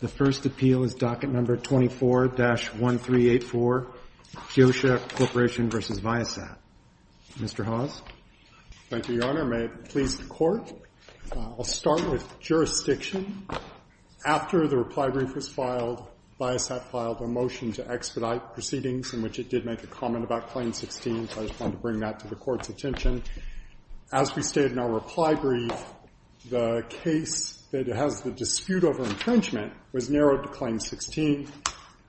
The first appeal is Docket Number 24-1384, KIOXIA Corporation v. Viasat. Mr. Hawes. Thank you, Your Honor. May it please the Court. I'll start with jurisdiction. After the reply brief was filed, Viasat filed a motion to expedite proceedings in which it did make a comment about Claim 16, so I just wanted to bring that to the Court's attention. As we stated in our reply brief, the case that has the dispute over entrenchment was narrowed to Claim 16.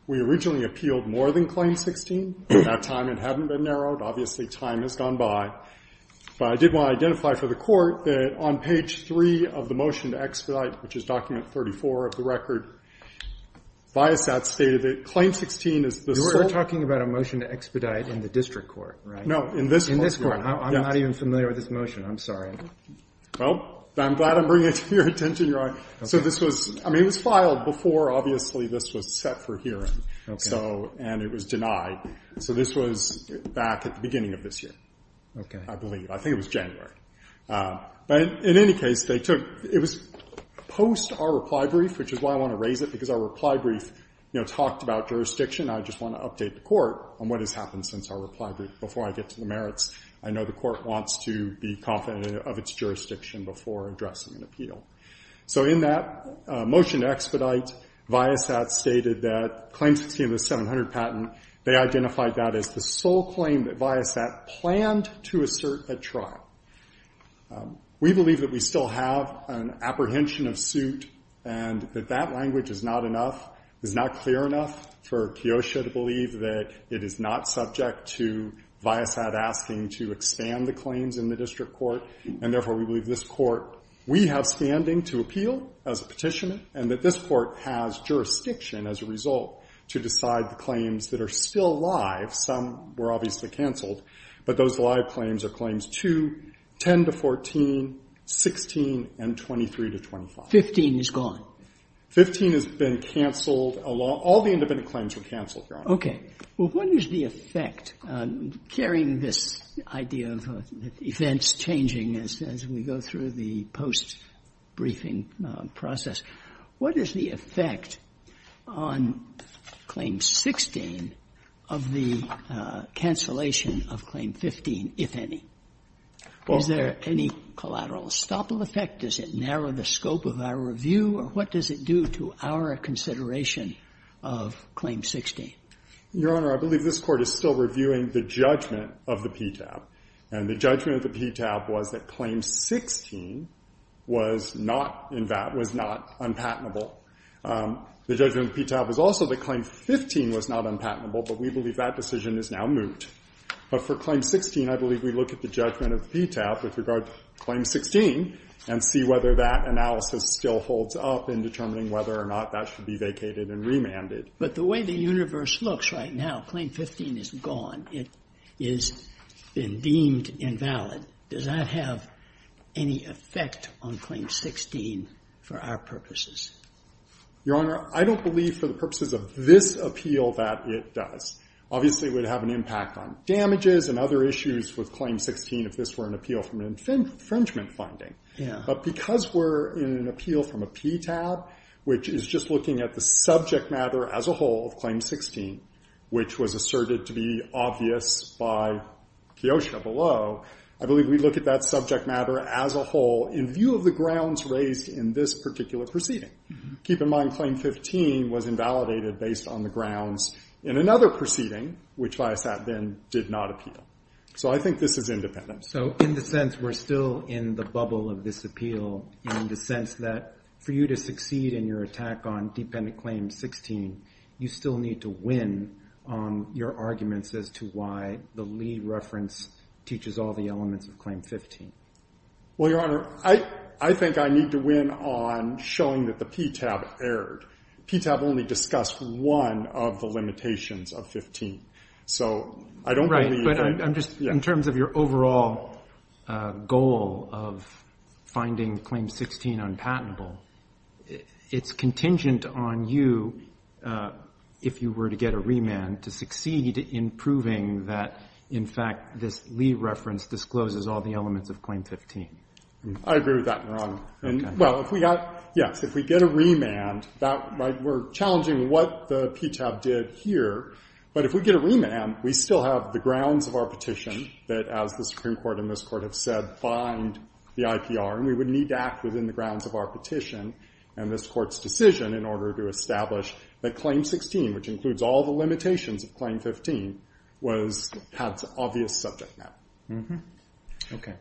We originally appealed more than Claim 16. At that time, it hadn't been narrowed. Obviously, time has gone by. But I did want to identify for the Court that on page 3 of the motion to expedite, which is Document 34 of the record, Viasat stated that Claim 16 is the sole You're talking about a motion to expedite in the district court, right? No, in this court. In this court. I'm not even familiar with this motion. I'm sorry. Well, I'm glad I'm bringing it to your attention, Your Honor. So this was, I mean, it was filed before, obviously, this was set for hearing. So, and it was denied. So this was back at the beginning of this year, I believe. I think it was January. But in any case, they took, it was post our reply brief, which is why I want to raise it, because our reply brief, you know, talked about jurisdiction. I just want to update the Court on what has happened since our reply brief before I get to the merits. I know the Court wants to be confident of its jurisdiction before addressing an appeal. So in that motion to expedite, Viasat stated that Claim 16 of the 700 patent, they identified that as the sole claim that Viasat planned to assert at trial. We believe that we still have an apprehension of suit, and that that language is not enough, is not clear enough for Keosha to believe that it is not subject to Viasat asking to expand the claims in the district court. And therefore, we believe this Court, we have standing to appeal as a Petitioner, and that this Court has jurisdiction as a result to decide the claims that are still live, some were obviously canceled, but those live claims are Claims 2, 10 to 14, 16, and 23 to 25. 15 is gone. 15 has been canceled. All the independent claims were canceled, Your Honor. Okay. Well, what is the effect, carrying this idea of events changing as we go through the post-briefing process, what is the effect on Claim 16 of the cancellation of Claim 15, if any? Is there any collateral estoppel effect? Does it narrow the scope of our review? Or what does it do to our consideration of Claim 16? Your Honor, I believe this Court is still reviewing the judgment of the PTAB. And the judgment of the PTAB was that Claim 16 was not in that, was not unpatentable. The judgment of the PTAB was also that Claim 15 was not unpatentable, but we believe that decision is now moot. But for Claim 16, I believe we look at the judgment of the PTAB with regard to Claim 16 and see whether that analysis still holds up in determining whether or not that should be vacated and remanded. But the way the universe looks right now, Claim 15 is gone. It has been deemed invalid. Does that have any effect on Claim 16 for our purposes? Your Honor, I don't believe for the purposes of this appeal that it does. Obviously, it would have an impact on damages and other issues with Claim 16 if this were an appeal from an infringement finding. But because we're in an appeal from a PTAB, which is just looking at the subject matter as a whole of Claim 16, which was asserted to be obvious by Kiosha below, I believe we look at that subject matter as a whole in view of the grounds raised in this particular proceeding. Keep in mind, Claim 15 was invalidated based on the grounds in another proceeding, which Viasat then did not appeal. So I think this is independent. So in the sense we're still in the bubble of this appeal, in the sense that for you to succeed in your attack on Dependent Claim 16, you still need to win your arguments as to why the Lee reference teaches all the elements of Claim 15. Well, Your Honor, I think I need to win on showing that the PTAB erred. PTAB only discussed one of the limitations of 15. So I don't believe that. In terms of your overall goal of finding Claim 16 unpatentable, it's contingent on you, if you were to get a remand, to succeed in proving that, in fact, this Lee reference discloses all the elements of Claim 15. I agree with that, Your Honor. Well, if we get a remand, we're challenging what the PTAB did here. But if we get a remand, we still have the grounds of our petition that, as the Supreme Court and this Court have said, bind the IPR. And we would need to act within the grounds of our petition and this Court's decision in order to establish that Claim 16, which includes all the limitations of Claim 15, was PTAB's obvious subject matter.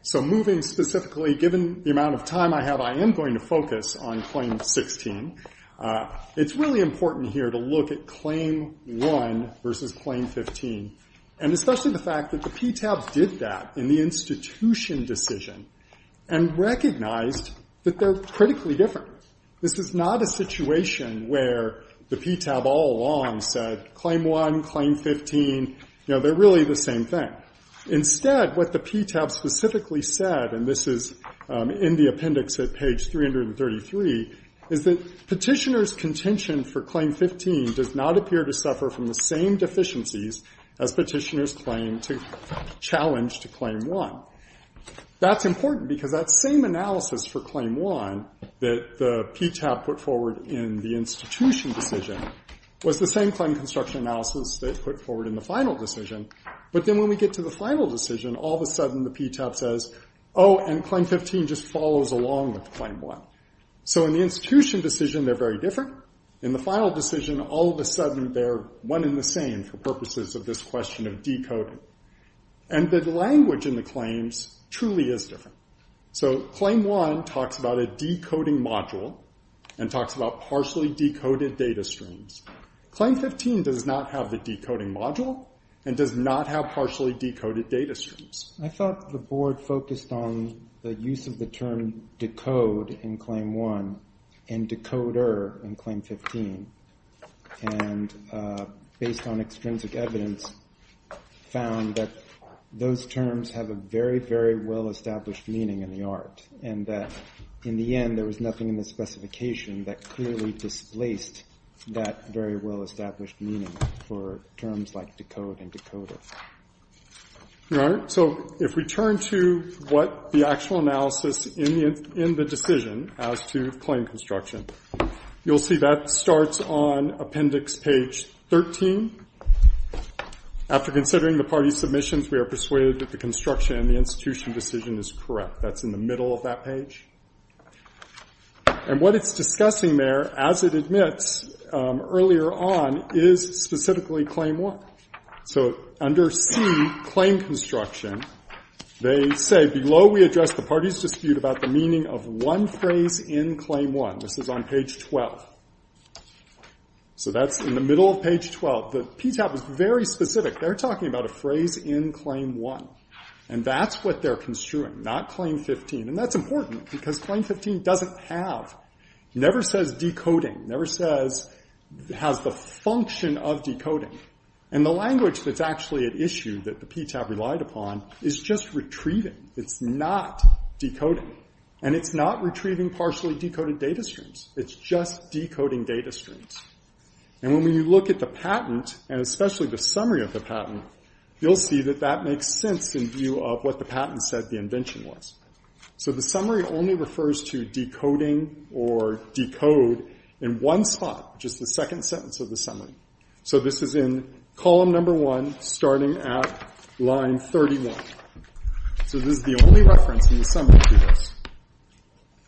So moving specifically, given the amount of time I have, I am going to focus on Claim 16. It's really important here to look at Claim 1 versus Claim 15. And especially the fact that the PTAB did that in the institution decision and recognized that they're critically different. This is not a situation where the PTAB all along said, Claim 1, Claim 15, you know, they're really the same thing. Instead, what the PTAB specifically said, and this is in the appendix at page 333, is that Petitioner's contention for Claim 15 does not appear to suffer from the same deficiencies as Petitioner's claim to challenge to Claim 1. That's important because that same analysis for Claim 1 that the PTAB put forward in the institution decision was the same claim construction analysis they put forward in the final decision. But then when we get to the final decision, all of a sudden the PTAB says, oh, and Claim 15 just follows along with Claim 1. So in the institution decision, they're very different. In the final decision, all of a sudden they're one and the same for purposes of this question of decoding. And the language in the claims truly is different. So Claim 1 talks about a decoding module and talks about partially decoded data streams. Claim 15 does not have the decoding module and does not have partially decoded data streams. I thought the board focused on the use of the term decode in Claim 1 and decoder in Claim 15, and based on extrinsic evidence, found that those terms have a very, very well established meaning in the art, and that in the end there was nothing in the specification that clearly displaced that very well established meaning for terms like decode and decoder. All right. So if we turn to what the actual analysis in the decision as to claim construction, you'll see that starts on appendix page 13. After considering the party's submissions, we are persuaded that the construction in the institution decision is correct. That's in the middle of that page. And what it's discussing there, as it admits earlier on, is specifically Claim 1. So under C, claim construction, they say, below we address the party's dispute about the meaning of one phrase in Claim 1. This is on page 12. So that's in the middle of page 12. The PTAB is very specific. They're talking about a phrase in Claim 1. And that's what they're construing, not Claim 15. And that's important, because Claim 15 doesn't have, never says decoding, never has the function of decoding. And the language that's actually at issue that the PTAB relied upon is just retrieving. It's not decoding. And it's not retrieving partially decoded data streams. It's just decoding data streams. And when you look at the patent, and especially the summary of the patent, you'll see that that makes sense in view of what the patent said the invention was. So the summary only refers to decoding or decode in one spot, which is the second sentence of the summary. So this is in column number 1, starting at line 31. So this is the only reference in the summary to this.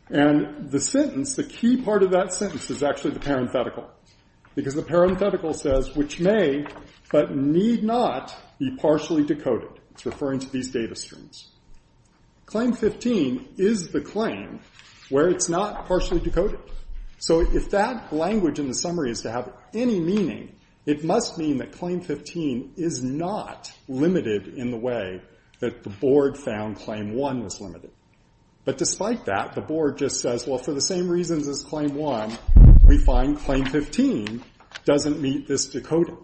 And the sentence, the key part of that sentence, is actually the parenthetical. Because the parenthetical says, which may, but need not, be partially decoded. It's referring to these data streams. Claim 15 is the claim where it's not partially decoded. So if that language in the summary is to have any meaning, it must mean that Claim 15 is not limited in the way that the board found Claim 1 was limited. But despite that, the board just says, well, for the same reasons as Claim 1, we find Claim 15 doesn't meet this decoding.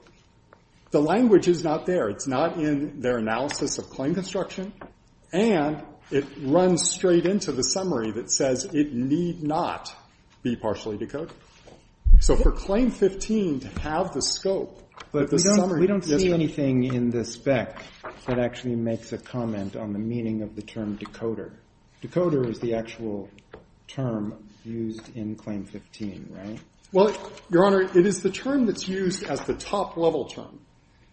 The language is not there. It's not in their analysis of claim construction. And it runs straight into the summary that says, it need not be partially decoded. So for Claim 15 to have the scope of the summary. We don't see anything in the spec that actually makes a comment on the meaning of the term decoder. Decoder is the actual term used in Claim 15, right? Well, Your Honor, it is the term that's used as the top-level term.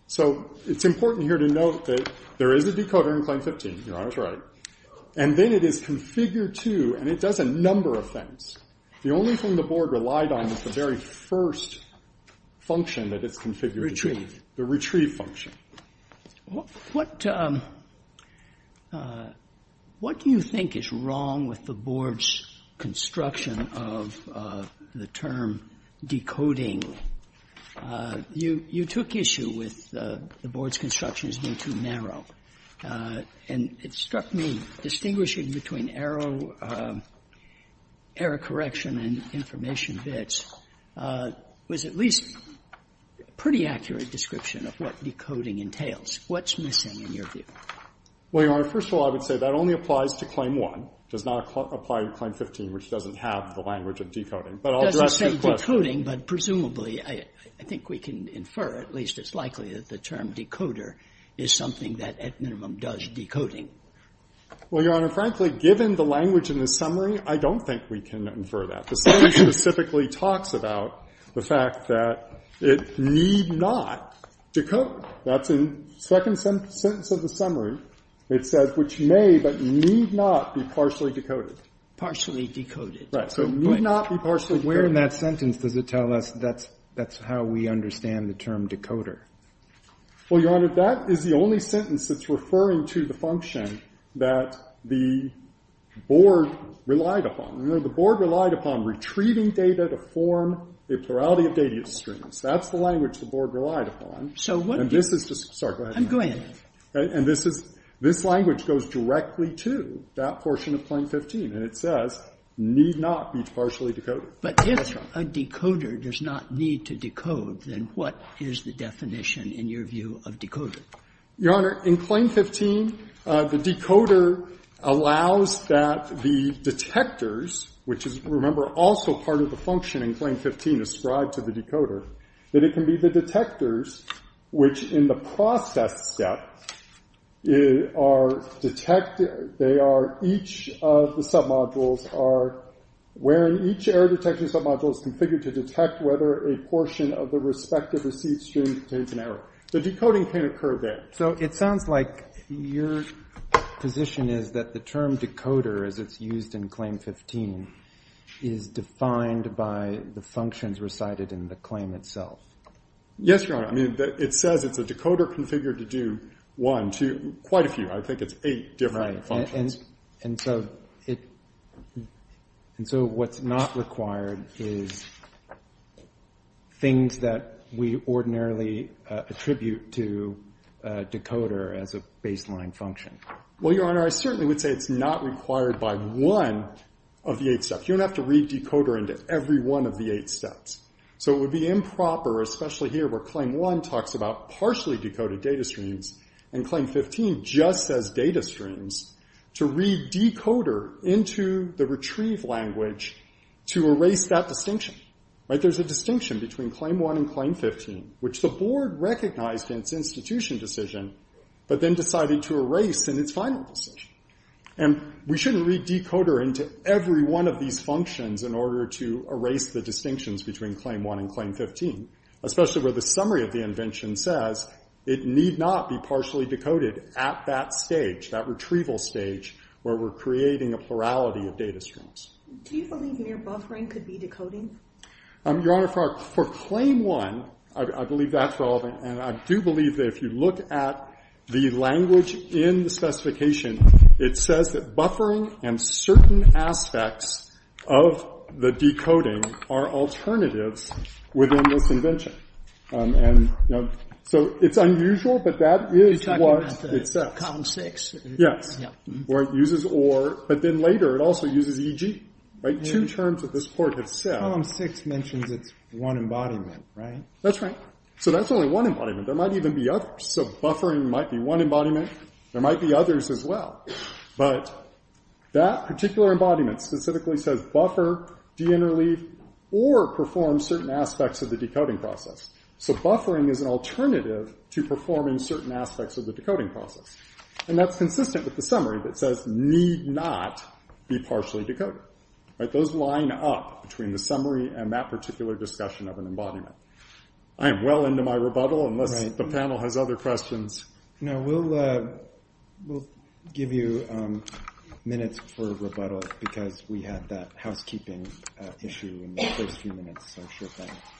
So it's important here to note that there is a decoder in Claim 15, Your Honor. That's right. And then it is configured to, and it does a number of things. The only thing the board relied on is the very first function that it's configured to do. The retrieve function. What do you think is wrong with the board's construction of the term decoding? You took issue with the board's construction as being too narrow. And it struck me, distinguishing between error, error correction and information bits, was at least a pretty accurate description of what decoding entails. What's missing in your view? Well, Your Honor, first of all, I would say that only applies to Claim 1. It does not apply to Claim 15, which doesn't have the language of decoding. But I'll address your question. It doesn't say decoding, but presumably I think we can infer, at least it's likely, that the term decoder is something that at minimum does decoding. Well, Your Honor, frankly, given the language in the summary, I don't think we can infer that. The summary specifically talks about the fact that it need not decode. That's in the second sentence of the summary. It says, which may but need not be partially decoded. Partially decoded. Right. So it need not be partially decoded. But where in that sentence does it tell us that's how we understand the term decoder? Well, Your Honor, that is the only sentence that's referring to the function that the board relied upon. You know, the board relied upon retrieving data to form a plurality of data streams. That's the language the board relied upon. And this is the sorry, go ahead. Go ahead. And this is, this language goes directly to that portion of Claim 15, and it says need not be partially decoded. But if a decoder does not need to decode, then what is the definition in your view of decoder? Your Honor, in Claim 15, the decoder allows that the detectors, which is, remember, also part of the function in Claim 15 ascribed to the decoder, that it can be the detectors which in the process step are detect, they are each of the submodules are, where each error detection submodule is configured to detect whether a portion of the respective receipt stream contains an error. The decoding can occur there. So it sounds like your position is that the term decoder, as it's used in Claim 15, is defined by the functions recited in the claim itself. Yes, Your Honor. I mean, it says it's a decoder configured to do one, two, quite a few. I think it's eight different functions. And so what's not required is things that we ordinarily attribute to decoder as a baseline function. Well, Your Honor, I certainly would say it's not required by one of the eight steps. You don't have to read decoder into every one of the eight steps. So it would be improper, especially here where Claim 1 talks about partially data streams, to read decoder into the retrieve language to erase that distinction. There's a distinction between Claim 1 and Claim 15, which the board recognized in its institution decision, but then decided to erase in its final decision. And we shouldn't read decoder into every one of these functions in order to erase the distinctions between Claim 1 and Claim 15, especially where the summary of the convention says it need not be partially decoded at that stage, that retrieval stage, where we're creating a plurality of data streams. Do you believe near buffering could be decoding? Your Honor, for Claim 1, I believe that's relevant. And I do believe that if you look at the language in the specification, it says that buffering and certain aspects of the decoding are alternatives within this convention. So it's unusual, but that is what it says. You're talking about Column 6? Yes. Where it uses or, but then later it also uses eg. Right? Two terms that this court has said. Column 6 mentions it's one embodiment, right? That's right. So that's only one embodiment. There might even be others. So buffering might be one embodiment. There might be others as well. But that particular embodiment specifically says buffer, deinterleave, or perform certain aspects of the decoding process. So buffering is an alternative to performing certain aspects of the decoding process. And that's consistent with the summary that says, need not be partially decoded. Right? Those line up between the summary and that particular discussion of an embodiment. I am well into my rebuttal unless the panel has other questions. No. We'll give you minutes for rebuttal because we had that housekeeping issue in the first few minutes.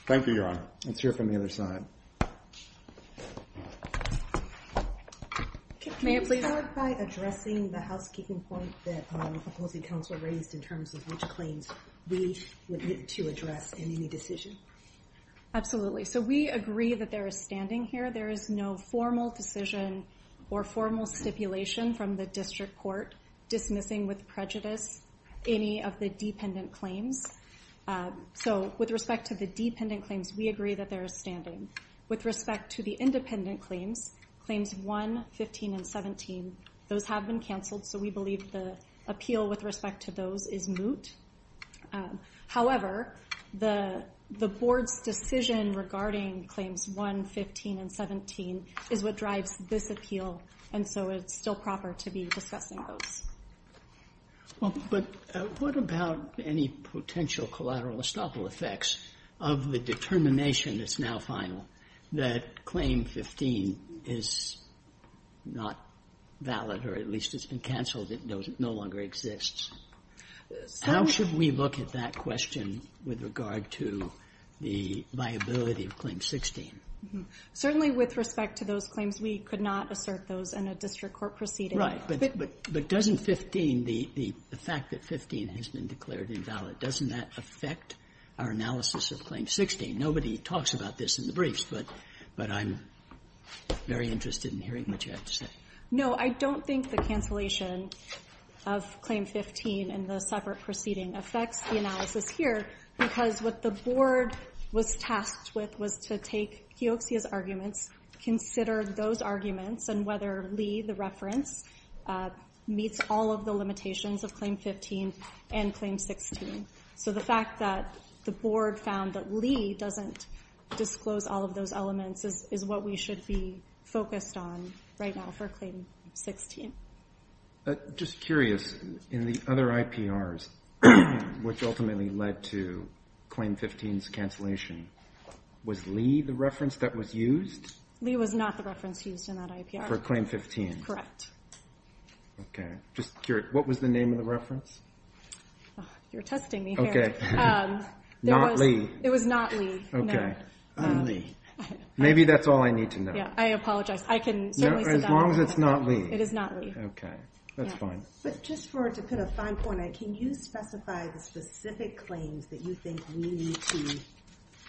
Thank you, Your Honor. Let's hear from the other side. May I please? Can you clarify addressing the housekeeping point that the opposing counsel raised in terms of which claims we would need to address in any decision? Absolutely. So we agree that there is standing here. There is no formal decision or formal stipulation from the district court dismissing with prejudice any of the dependent claims. So with respect to the dependent claims, we agree that there is standing. With respect to the independent claims, Claims 1, 15, and 17, those have been canceled. So we believe the appeal with respect to those is moot. However, the board's decision regarding Claims 1, 15, and 17 is what drives this appeal. And so it's still proper to be discussing those. But what about any potential collateral estoppel effects of the determination that's now final that Claim 15 is not valid, or at least it's been canceled, it no longer exists? How should we look at that question with regard to the viability of Claim 16? Certainly with respect to those claims, we could not assert those in a district court proceeding. Right. But doesn't 15, the fact that 15 has been declared invalid, doesn't that affect our analysis of Claim 16? Nobody talks about this in the briefs, but I'm very interested in hearing what you have to say. No, I don't think the cancellation of Claim 15 in the separate proceeding affects the analysis here, because what the board was tasked with was to take Keoxia's arguments, consider those arguments, and whether Lee, the reference, meets all of the limitations of Claim 15 and Claim 16. So the fact that the board found that Lee doesn't disclose all of those elements is what we should be focused on right now for Claim 16. Just curious, in the other IPRs, which ultimately led to Claim 15's cancellation, was Lee the reference that was used? Lee was not the reference used in that IPR. For Claim 15. Correct. Okay. Just curious, what was the name of the reference? You're testing me here. Okay. Not Lee. It was not Lee. Okay. Maybe that's all I need to know. Yeah, I apologize. I can certainly sit down. As long as it's not Lee. It is not Lee. Okay. That's fine. But just for, to put a fine point on it, can you specify the specific claims that you think we need to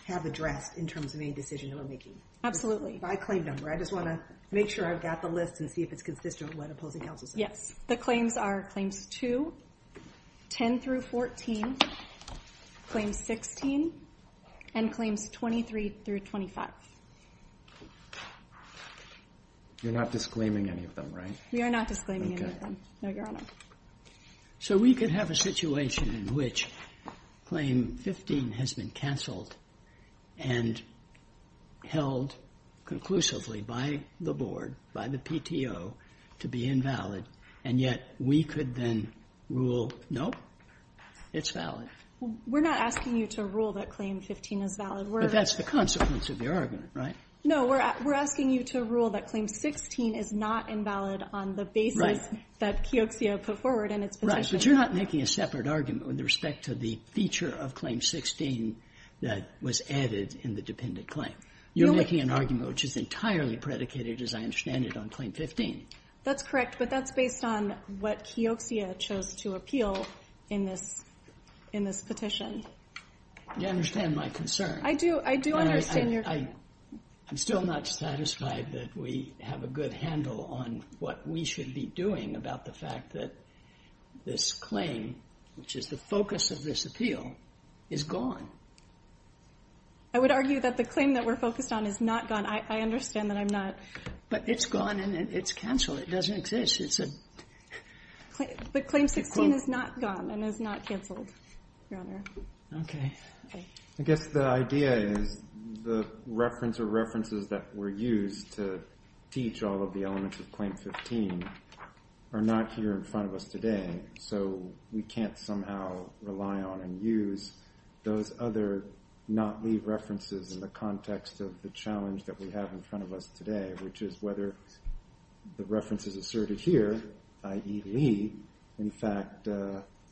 have addressed in terms of any decision that we're making? Absolutely. By claim number. I just want to make sure I've got the list and see if it's consistent with what opposing counsel said. Yes. The claims are Claims 2, 10-14, Claims 16, and Claims 23-25. You're not disclaiming any of them, right? We are not disclaiming any of them. Okay. No, Your Honor. So we could have a situation in which Claim 15 has been canceled and held conclusively by the board, by the PTO, to be invalid, and yet we could then rule, nope, it's valid. We're not asking you to rule that Claim 15 is valid. But that's the consequence of your argument, right? No, we're asking you to rule that Claim 16 is not invalid on the basis that Keoxia put forward in its petition. Right. But you're not making a separate argument with respect to the feature of Claim 16 that was added in the dependent claim. You're making an argument which is entirely predicated, as I understand it, on Claim 15. That's correct. But that's based on what Keoxia chose to appeal in this petition. You understand my concern. I do. I do understand your concern. I'm still not satisfied that we have a good handle on what we should be doing about the fact that this claim, which is the focus of this appeal, is gone. I would argue that the claim that we're focused on is not gone. I understand that I'm not... But it's gone and it's canceled. It doesn't exist. It's a... But Claim 16 is not gone and is not canceled, Your Honor. Okay. I guess the idea is the reference or references that were used to teach all of the elements of Claim 15 are not here in front of us today. So we can't somehow rely on and use those other not-Lee references in the context of the challenge that we have in front of us today, which is whether the references asserted here, i.e. Lee, in fact,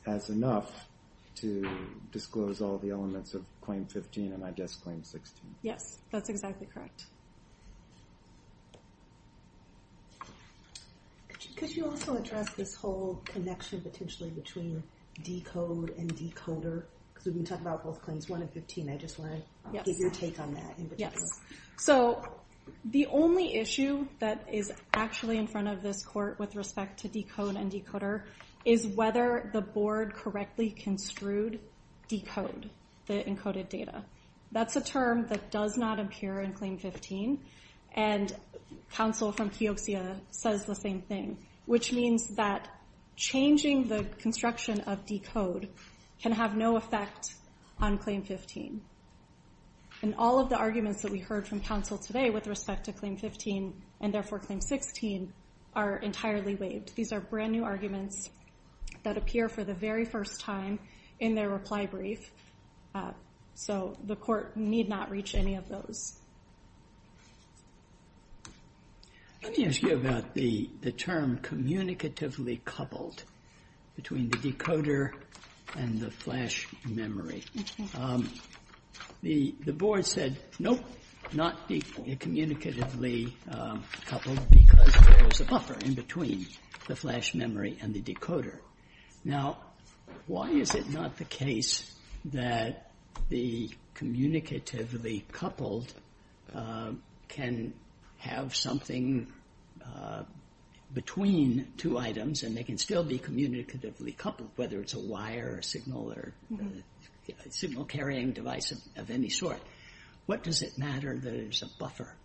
has enough to disclose all the elements of Claim 15 and, I guess, Claim 16. Yes. That's exactly correct. Could you also address this whole connection, potentially, between decode and decoder? Because we've been talking about both Claims 1 and 15. I just want to get your take on that in particular. Yes. So the only issue that is actually in front of this Court with respect to decode and decoder is whether the Board correctly construed decode, the encoded data. That's a term that does not appear in Claim 15. And counsel from Keoxia says the same thing, which means that changing the construction of decode can have no effect on Claim 15. And all of the arguments that we heard from counsel today with respect to Claim 15 and, therefore, Claim 16 are entirely waived. These are brand-new arguments that appear for the very first time in their reply brief. So the Court need not reach any of those. Let me ask you about the term communicatively coupled between the decoder and the flash memory. The Board said, no, not be communicatively coupled because there is a buffer in between the flash memory and the decoder. Now, why is it not the case that the communicatively coupled can have something between two items and they can still be communicatively coupled, whether it's a wire or a signal or a signal-carrying device of any sort? What does it matter that it's a buffer?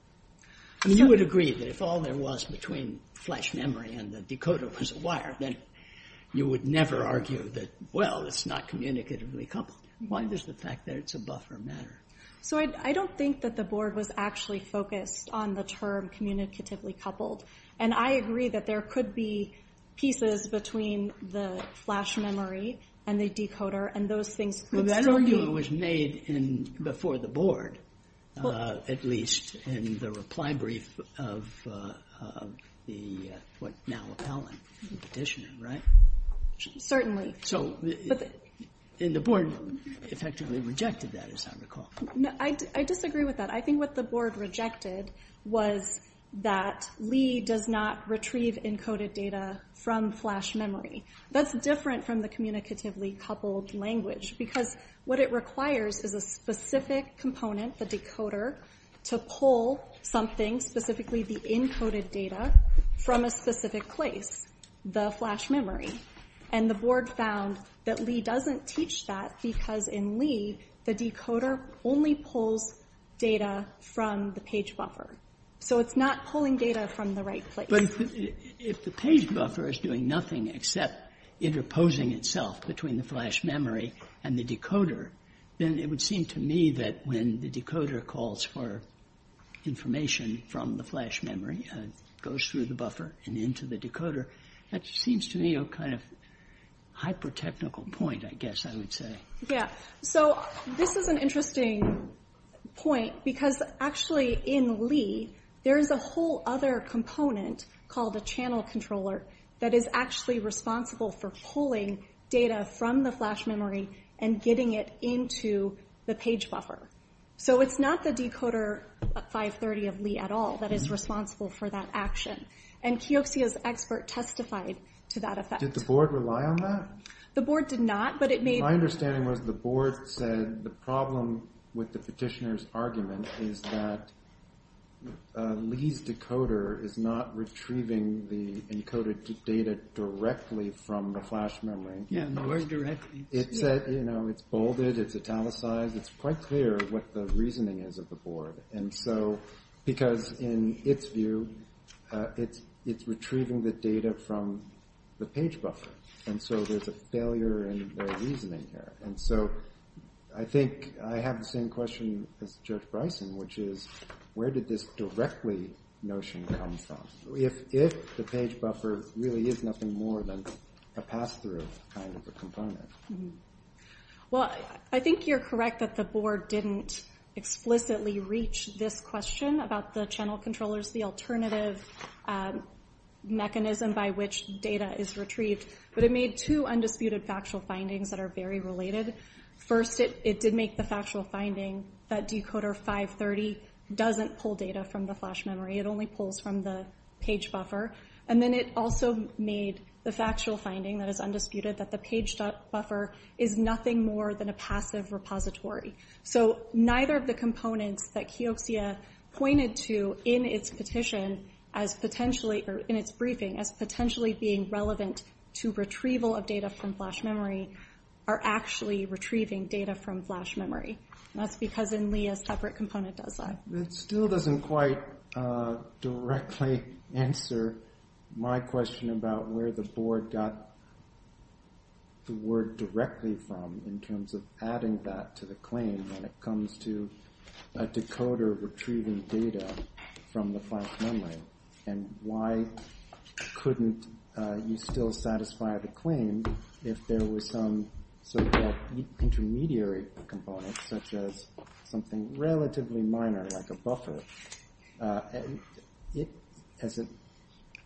I mean, you would agree that if all there was between flash memory and the decoder was a wire, then you would never argue that, well, it's not communicatively coupled. Why does the fact that it's a buffer matter? So I don't think that the Board was actually focused on the term communicatively coupled. And I agree that there could be pieces between the flash memory and the decoder and those things could still be... before the Board, at least in the reply brief of the now appellant petitioner, right? Certainly. So the Board effectively rejected that, as I recall. I disagree with that. I think what the Board rejected was that Lee does not retrieve encoded data from flash memory. That's different from the communicatively coupled language because what it requires is a specific component, to pull something, specifically the encoded data, from a specific place, the flash memory. And the Board found that Lee doesn't teach that because in Lee, the decoder only pulls data from the page buffer. So it's not pulling data from the right place. But if the page buffer is doing nothing except interposing itself between the flash memory and the decoder, then it would seem to me that when the decoder calls for information from the flash memory, it goes through the buffer and into the decoder. That seems to me a kind of hyper-technical point, I guess I would say. Yeah. So this is an interesting point because actually in Lee, there is a whole other component called a channel controller that is actually responsible for pulling data from the flash memory and getting it into the page buffer. So it's not the decoder 530 of Lee at all that is responsible for that action. And Keoksea's expert testified to that effect. Did the Board rely on that? The Board did not, but it made... My understanding was the Board said the problem with the petitioner's argument is that Lee's decoder is not retrieving the encoded data directly from the flash memory. Yeah, nowhere directly. It's bolded, it's italicized, it's quite clear what the reasoning is of the Board. And so, because in its view, it's retrieving the data from the page buffer. And so there's a failure in the reasoning here. And so I think I have the same question as Judge Bryson, which is where did this directly notion come from? If the page buffer really is nothing more than a pass-through, kind of a component. Well, I think you're correct that the Board didn't explicitly reach this question about the channel controllers, the alternative mechanism by which data is retrieved. But it made two undisputed factual findings that are very related. First, it did make the factual finding that decoder 530 doesn't pull data from the flash memory. It only pulls from the page buffer. And then it also made the factual finding that is undisputed that the page buffer is nothing more than a passive repository. So, neither of the components that Keoxia pointed to in its petition as potentially, or in its briefing, as potentially being relevant to retrieval of data from flash memory are actually retrieving data from flash memory. And that's because in Lee a separate component does that. That still doesn't quite directly answer my question about where the board got the word directly from in terms of adding that to the claim when it comes to a decoder retrieving data from the flash memory. And why couldn't you still satisfy the claim if there was some so-called intermediary component such as something relatively minor like a buffer. It has a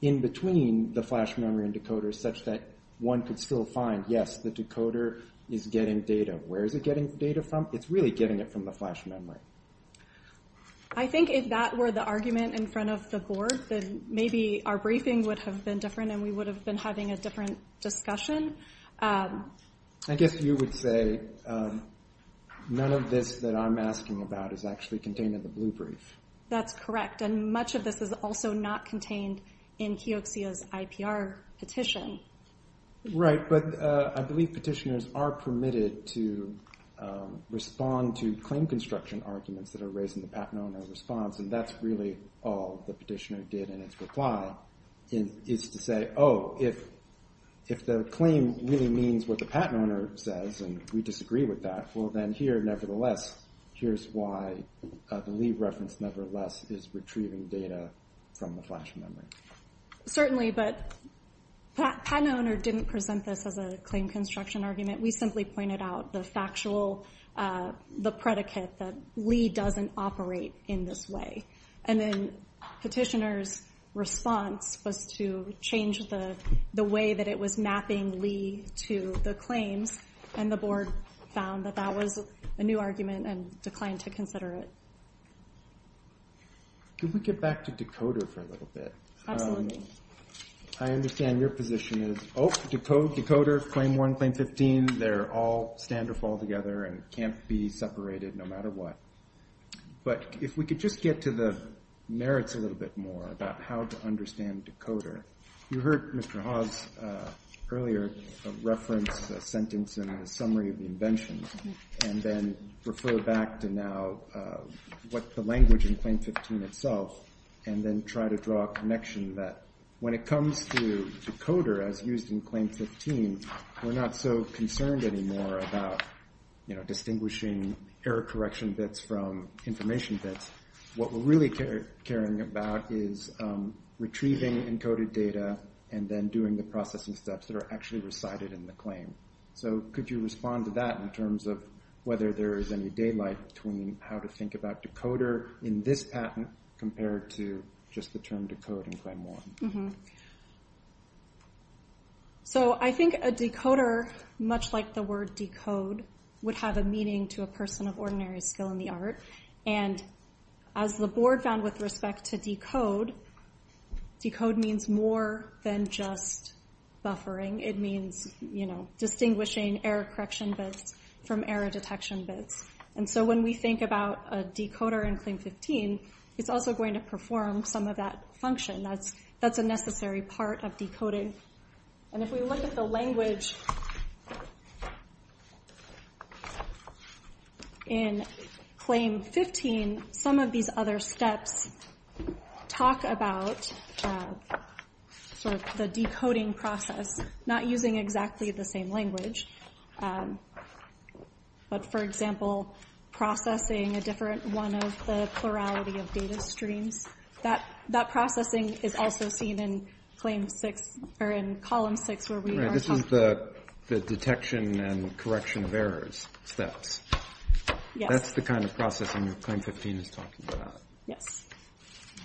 in between the flash memory and decoder such that one could still find, the decoder is getting data. Where is it getting data from? It's really getting it from the flash memory. I think if that were the in front of the board then maybe our briefing would have been different and we would have been having a different discussion. I guess you would say none of this that I'm asking about is actually contained in the blue brief. That's correct and much of this is also not contained in Keoxia's IPR petition. Right, but I believe petitioners are permitted to respond to claim construction arguments that are raised in the patent owner's response and that's really all the petitioner did in his reply is to say oh, if the claim really means what the patent owner says and we disagree with that well then here nevertheless here's why the Lee reference nevertheless is retrieving data from the flash memory. Certainly, but patent owner didn't present this as a claim construction argument. We simply pointed out the factual the predicate that Lee doesn't operate in this way and then petitioner's was to change the way that it was mapping Lee to the claims and the board found that that was a new argument and declined to consider it. Could we get back to decoder for a little bit? I understand your position is oh, decoder, claim 1, claim 15, they're all stand or fall together and but if we could just get to the merits a little bit more about how to understand decoder. You heard Mr. Hawes earlier reference sentence in the summary of the invention and then refer back to now what the language in claim 15 itself and then try to draw a connection that when it comes to decoder as used in claim 15 we're not so concerned anymore about distinguishing error correction bits from information bits what we're really caring about is retrieving encoded data and then doing the processing steps that are actually recited in the claim. Could you respond to that in terms of whether there is any daylight between how to think about decoder in this patent compared to just the term decode in claim 1? So I think a decoder much like the word decode would have a meaning to a person of ordinary skill in the art and as the board found with respect to decode decode means more than just buffering it means distinguishing error correction bits from error detection bits and so when we think about a decoder we perform some of that function that's a necessary part of decoding and if we look at the in claim 15 some of these other steps talk about the decoding process not using exactly the same language but for example processing a different one of the plurality of data streams that processing is also seen in claim 6 or in column 6 where we are talking about the detection and correction of errors steps that's the kind of processing that claim 15 is talking about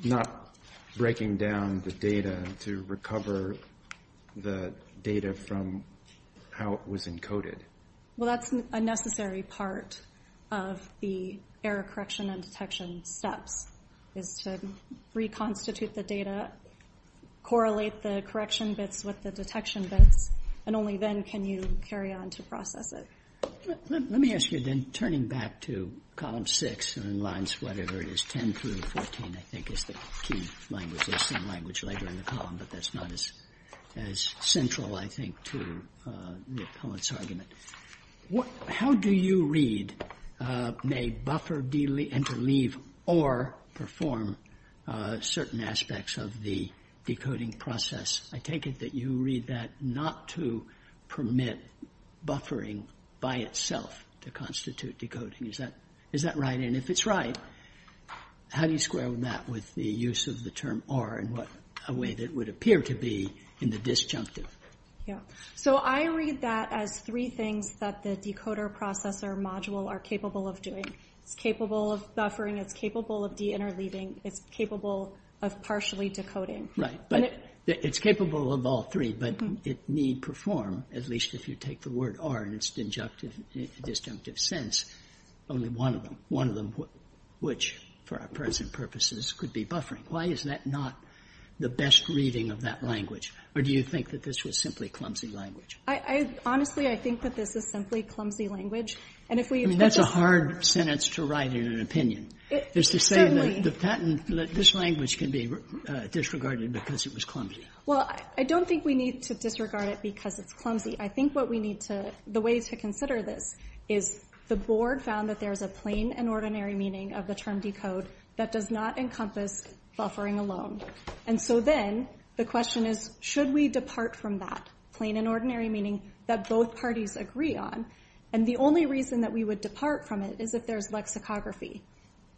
not breaking down the data to recover the data from how it was encoded well that's a necessary part of the error correction and detection steps is to reconstitute the data correlate the correction bits with the detection bits and only then can you carry on to process it let me ask you then turning back to column 6 and lines whatever it is 10 through 14 I think is the key language there's some language later in the column but that's not as central I think to the opponent's how do you read may buffer interleave or perform certain aspects of the decoding process I take it that you read that not to permit buffering by itself to decoding is that right if it's right how do you square that with the use of the R in a way that would appear to be in the disjunctive I read that as three need perform take R disjunctive sense one one which present could be not the best reading do you think this was clumsy I think clumsy that's hard to write opinion certainly this can be disregarded clumsy I don't think we need to disregard it because it's clumsy I think what we need to the way to consider this is the board found that there's a plain and ordinary meaning of the term decode that does not encompass buffering alone and so then the question is should we depart from that plain and ordinary meaning that both parties agree on and the only reason that we would depart from it is if there's lexicography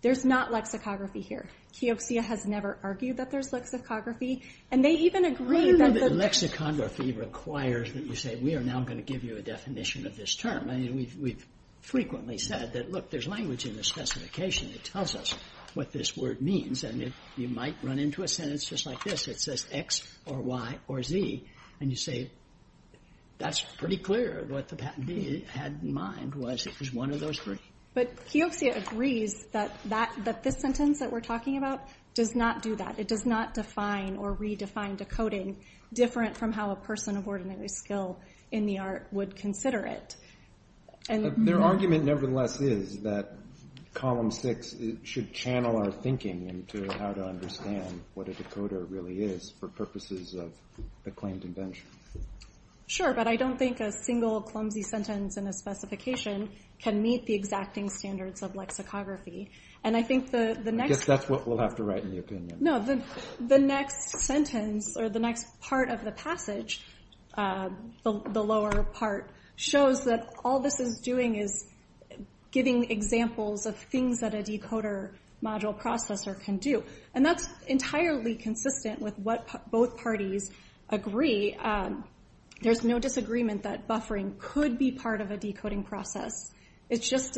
there's not lexicography here Keoxia has never argued that there's lexicography and they even agree that the lexicography requires that you say we are now going to give you a definition of this term and we've frequently said that look there's language in the specification that tells us what this word means and you might run into a sentence just like this that says X or Y or Z and you say that's pretty clear what the patentee had in mind was it was one of those three but Keoxia agrees that this sentence that we're talking about does not do that it does not define or redefine decoding different from how a person of ordinary skill in the art would consider it and their argument nevertheless is that column six should channel our thinking into how to understand what a decoder really is for purposes of the claimed invention sure but I don't think a single clumsy sentence in a specification can meet the exacting standards of lexicography and I think the next that's what we'll have to write in the opinion no the next sentence or the next part of the passage the lower part shows that all this is doing is giving examples of things that a decoder module processor can do and that's entirely consistent with what both parties agree there's no disagreement that buffering could be part of a decoding process it's just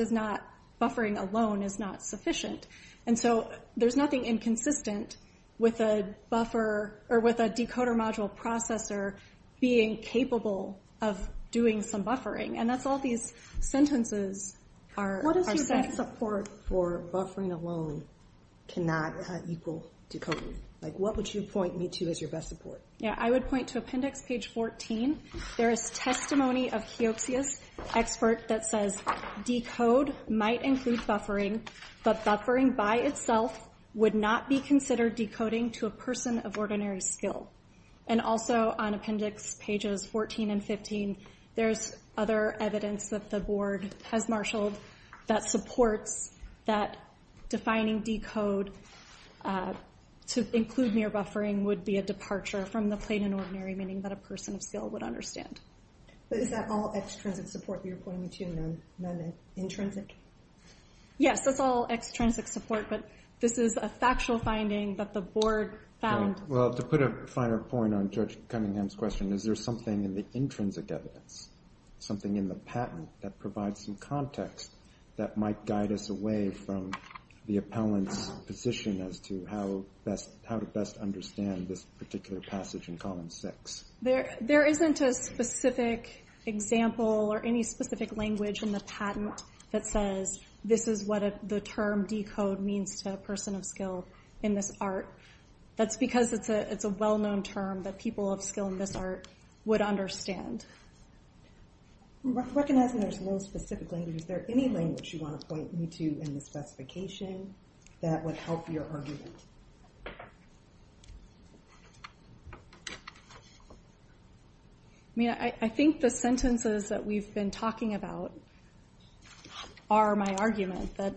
buffering alone is not sufficient and so there's nothing inconsistent with a buffer or with a decoder module processor being capable of doing some buffering and that's all these sentences are set what is your best support for buffering alone cannot equal decoding like what would you point me to as your best support I would point to appendix page 14 there is testimony of Keoxias expert that says decode might include buffering but buffering by itself would not be considered decoding to a of ordinary skill and also on appendix pages 14 and 15 there's other evidence that the definition would be a departure from the plain and ordinary meaning that a person of would understand is that all extrinsic support you're pointing to intrinsic yes that's all extrinsic support but this is a factual finding that the board found well to put a finer point on judge Cunningham's question is there something in the intrinsic evidence something in the patent that provides some context that might guide us away from the appellant's position as to how best how to best understand this particular passage in column six there isn't a specific example or any specific language in the patent that says this is what the term decode means to a person of skill in this art that's because it's a well of skill in this art would understand Recognizing there's no specific language is there any language you want to point you to in the specification that would help your I think the sentences that we've been talking about are my argument that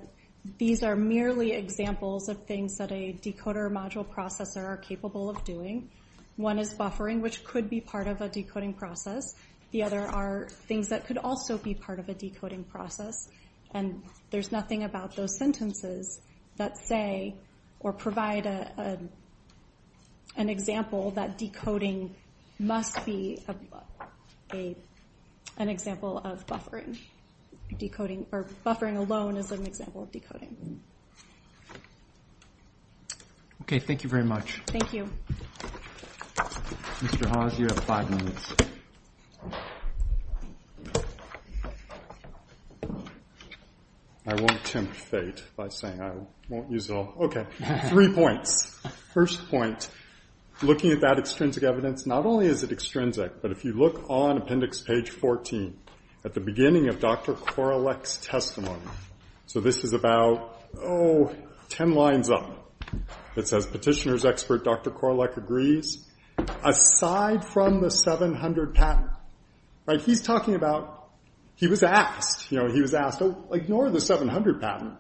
these are merely examples of things that a module processor are capable of doing one is buffering which could be part of a decoding process the other are things that could also be part of a decoding process and there's an example that decoding must be an example of buffering decoding or buffering alone is an example of okay thank you very much thank you Mr. Hawes you have five minutes I won't tempt fate by saying I won't use it all okay three points first point looking at that extrinsic evidence not only is it extrinsic but if you look on appendix page 14 at the beginning of Dr. Korolek's testimony so this is about oh ten lines up it says petitioner's expert Dr. Korolek agrees aside from the 700 pattern right he's talking about he was asked you know he was asked ignore the 700 pattern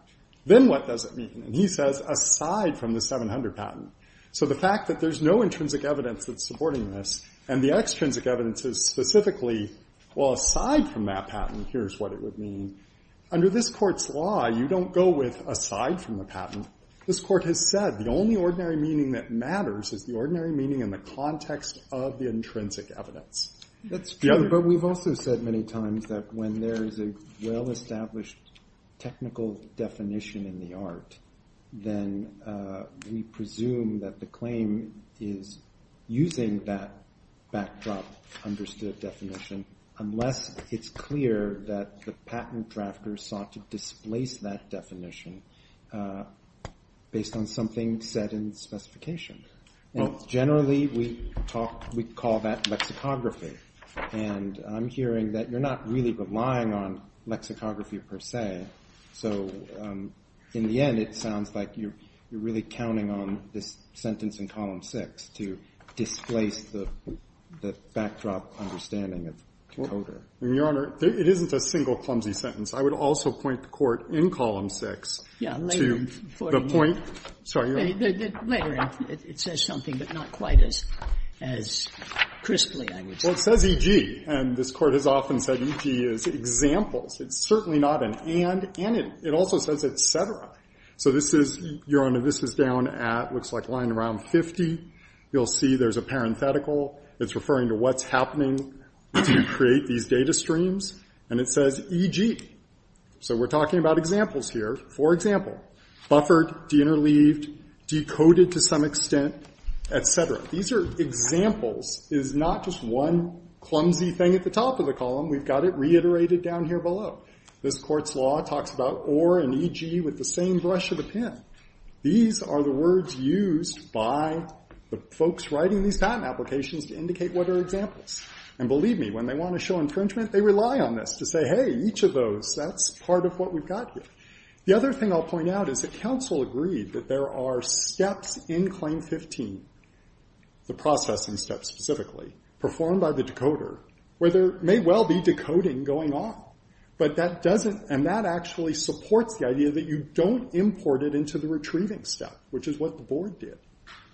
then what does it mean and he says aside from the 700 pattern so the fact that there's no intrinsic evidence that's supporting this and the extrinsic evidence is specifically well aside from that pattern here's what it would mean under this court's law you don't go with aside from the pattern this court has said the only ordinary meaning that matters is the ordinary meaning in the context of the intrinsic evidence that's true but we've also said many times that when there's a well established technical definition in the art then we presume that the claim is using that backdrop understood definition unless it's clear that the patent drafter sought to displace that based on something said in specification generally we talk we call that lexicography and I'm hearing that you're not really relying on lexicography per se so in the end it sounds like you're really counting on this sentence in column 6 to displace the backdrop understanding of the coder your honor it isn't a single clumsy sentence I would also point the court in column 6 to the point sorry later it says something but not quite as crisply well it says EG and this court has often said EG is examples it's certainly not an and it also says etc so this is your honor this is down at looks like lying around 50 you'll see there's a parenthetical it's referring to what's happening to create these data streams and it says EG so we're talking about examples here for example buffered deinterleaved decoded to some extent etc these are examples it's not just one clumsy thing at the top of the column we've got it reiterated down here below this court's law talks about or and EG with the same brush of the pen these are the words used by the folks writing these patent applications to indicate what are examples and believe me when they want to show infringement they rely on this to say hey each of those that's part of what we've got here the other thing I'll point out is that council agreed that there are steps in claim 15 the processing step specifically performed by the where there may well be decoding going on but that doesn't and that actually supports the idea that you don't import it into the retrieving step which is what the board did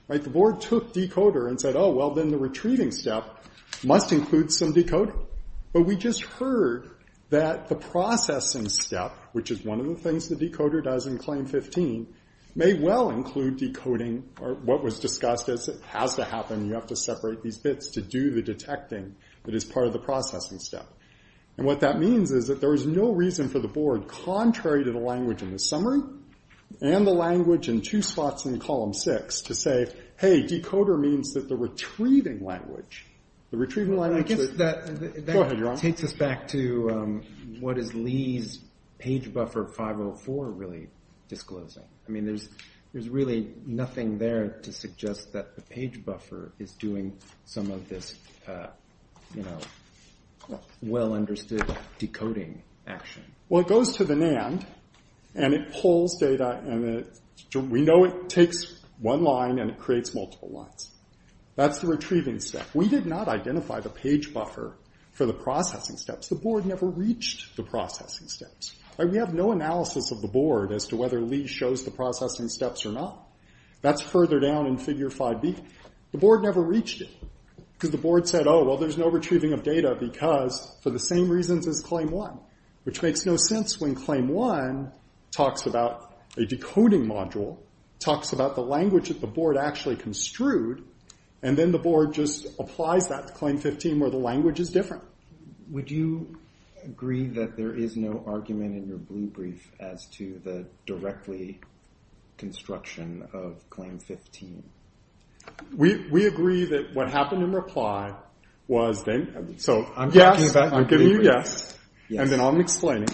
right the board took decoder and said oh well then the retrieving step must include some decoding but we just heard that the processing step which is one of the things the decoder does in claim 15 may well include decoding or what was discussed as it has to happen you have to separate these bits to do the detecting that is part of the processing step and what that means is that there is no reason for the board contrary to the language in the summary and the language in two spots in column 6 to say hey decoder means that the retrieving language the retrieving language I guess that takes us back to what is Lee's page buffer 504 really disclosing I mean there's really nothing there to suggest that the page buffer is doing some of this you know well understood decoding action well it goes to the NAND and it pulls data and we know it takes one line and it creates multiple lines that's the retrieving step we did not identify the page buffer for the processing steps the board never reached the processing steps we have no analysis of the board as to whether Lee shows the processing steps or not that's further down in figure 5b the board never reached it because the board said oh well there's no retrieving of because for the same reasons as claim 1 which makes no sense when claim 1 talks about a decoding module talks about the language that the board actually construed and then the board just applies that to claim 15 where the language is different would you agree that there is no argument in your blue brief as to the directly construction of claim 15 we agree that what happened in reply was yes I'm giving you yes and then I'm explaining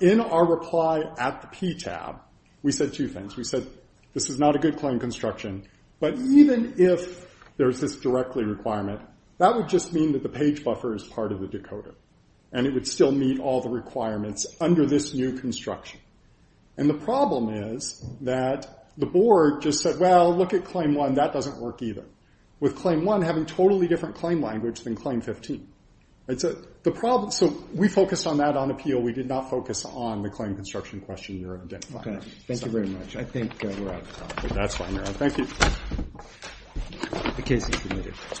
in our reply at the P tab we said two things this is not a good claim construction but even if there's this directly requirement that would just mean that the page buffer is part of the decoder and it would still meet all the requirements under this new construction and the problem is that the board just said well look at claim 1 and that doesn't work either with claim 1 having totally different claim language than claim 15 so we focused on that on we did not focus on the claim construction question you're identifying thank you very much I think we're out of thank you the case is adjourned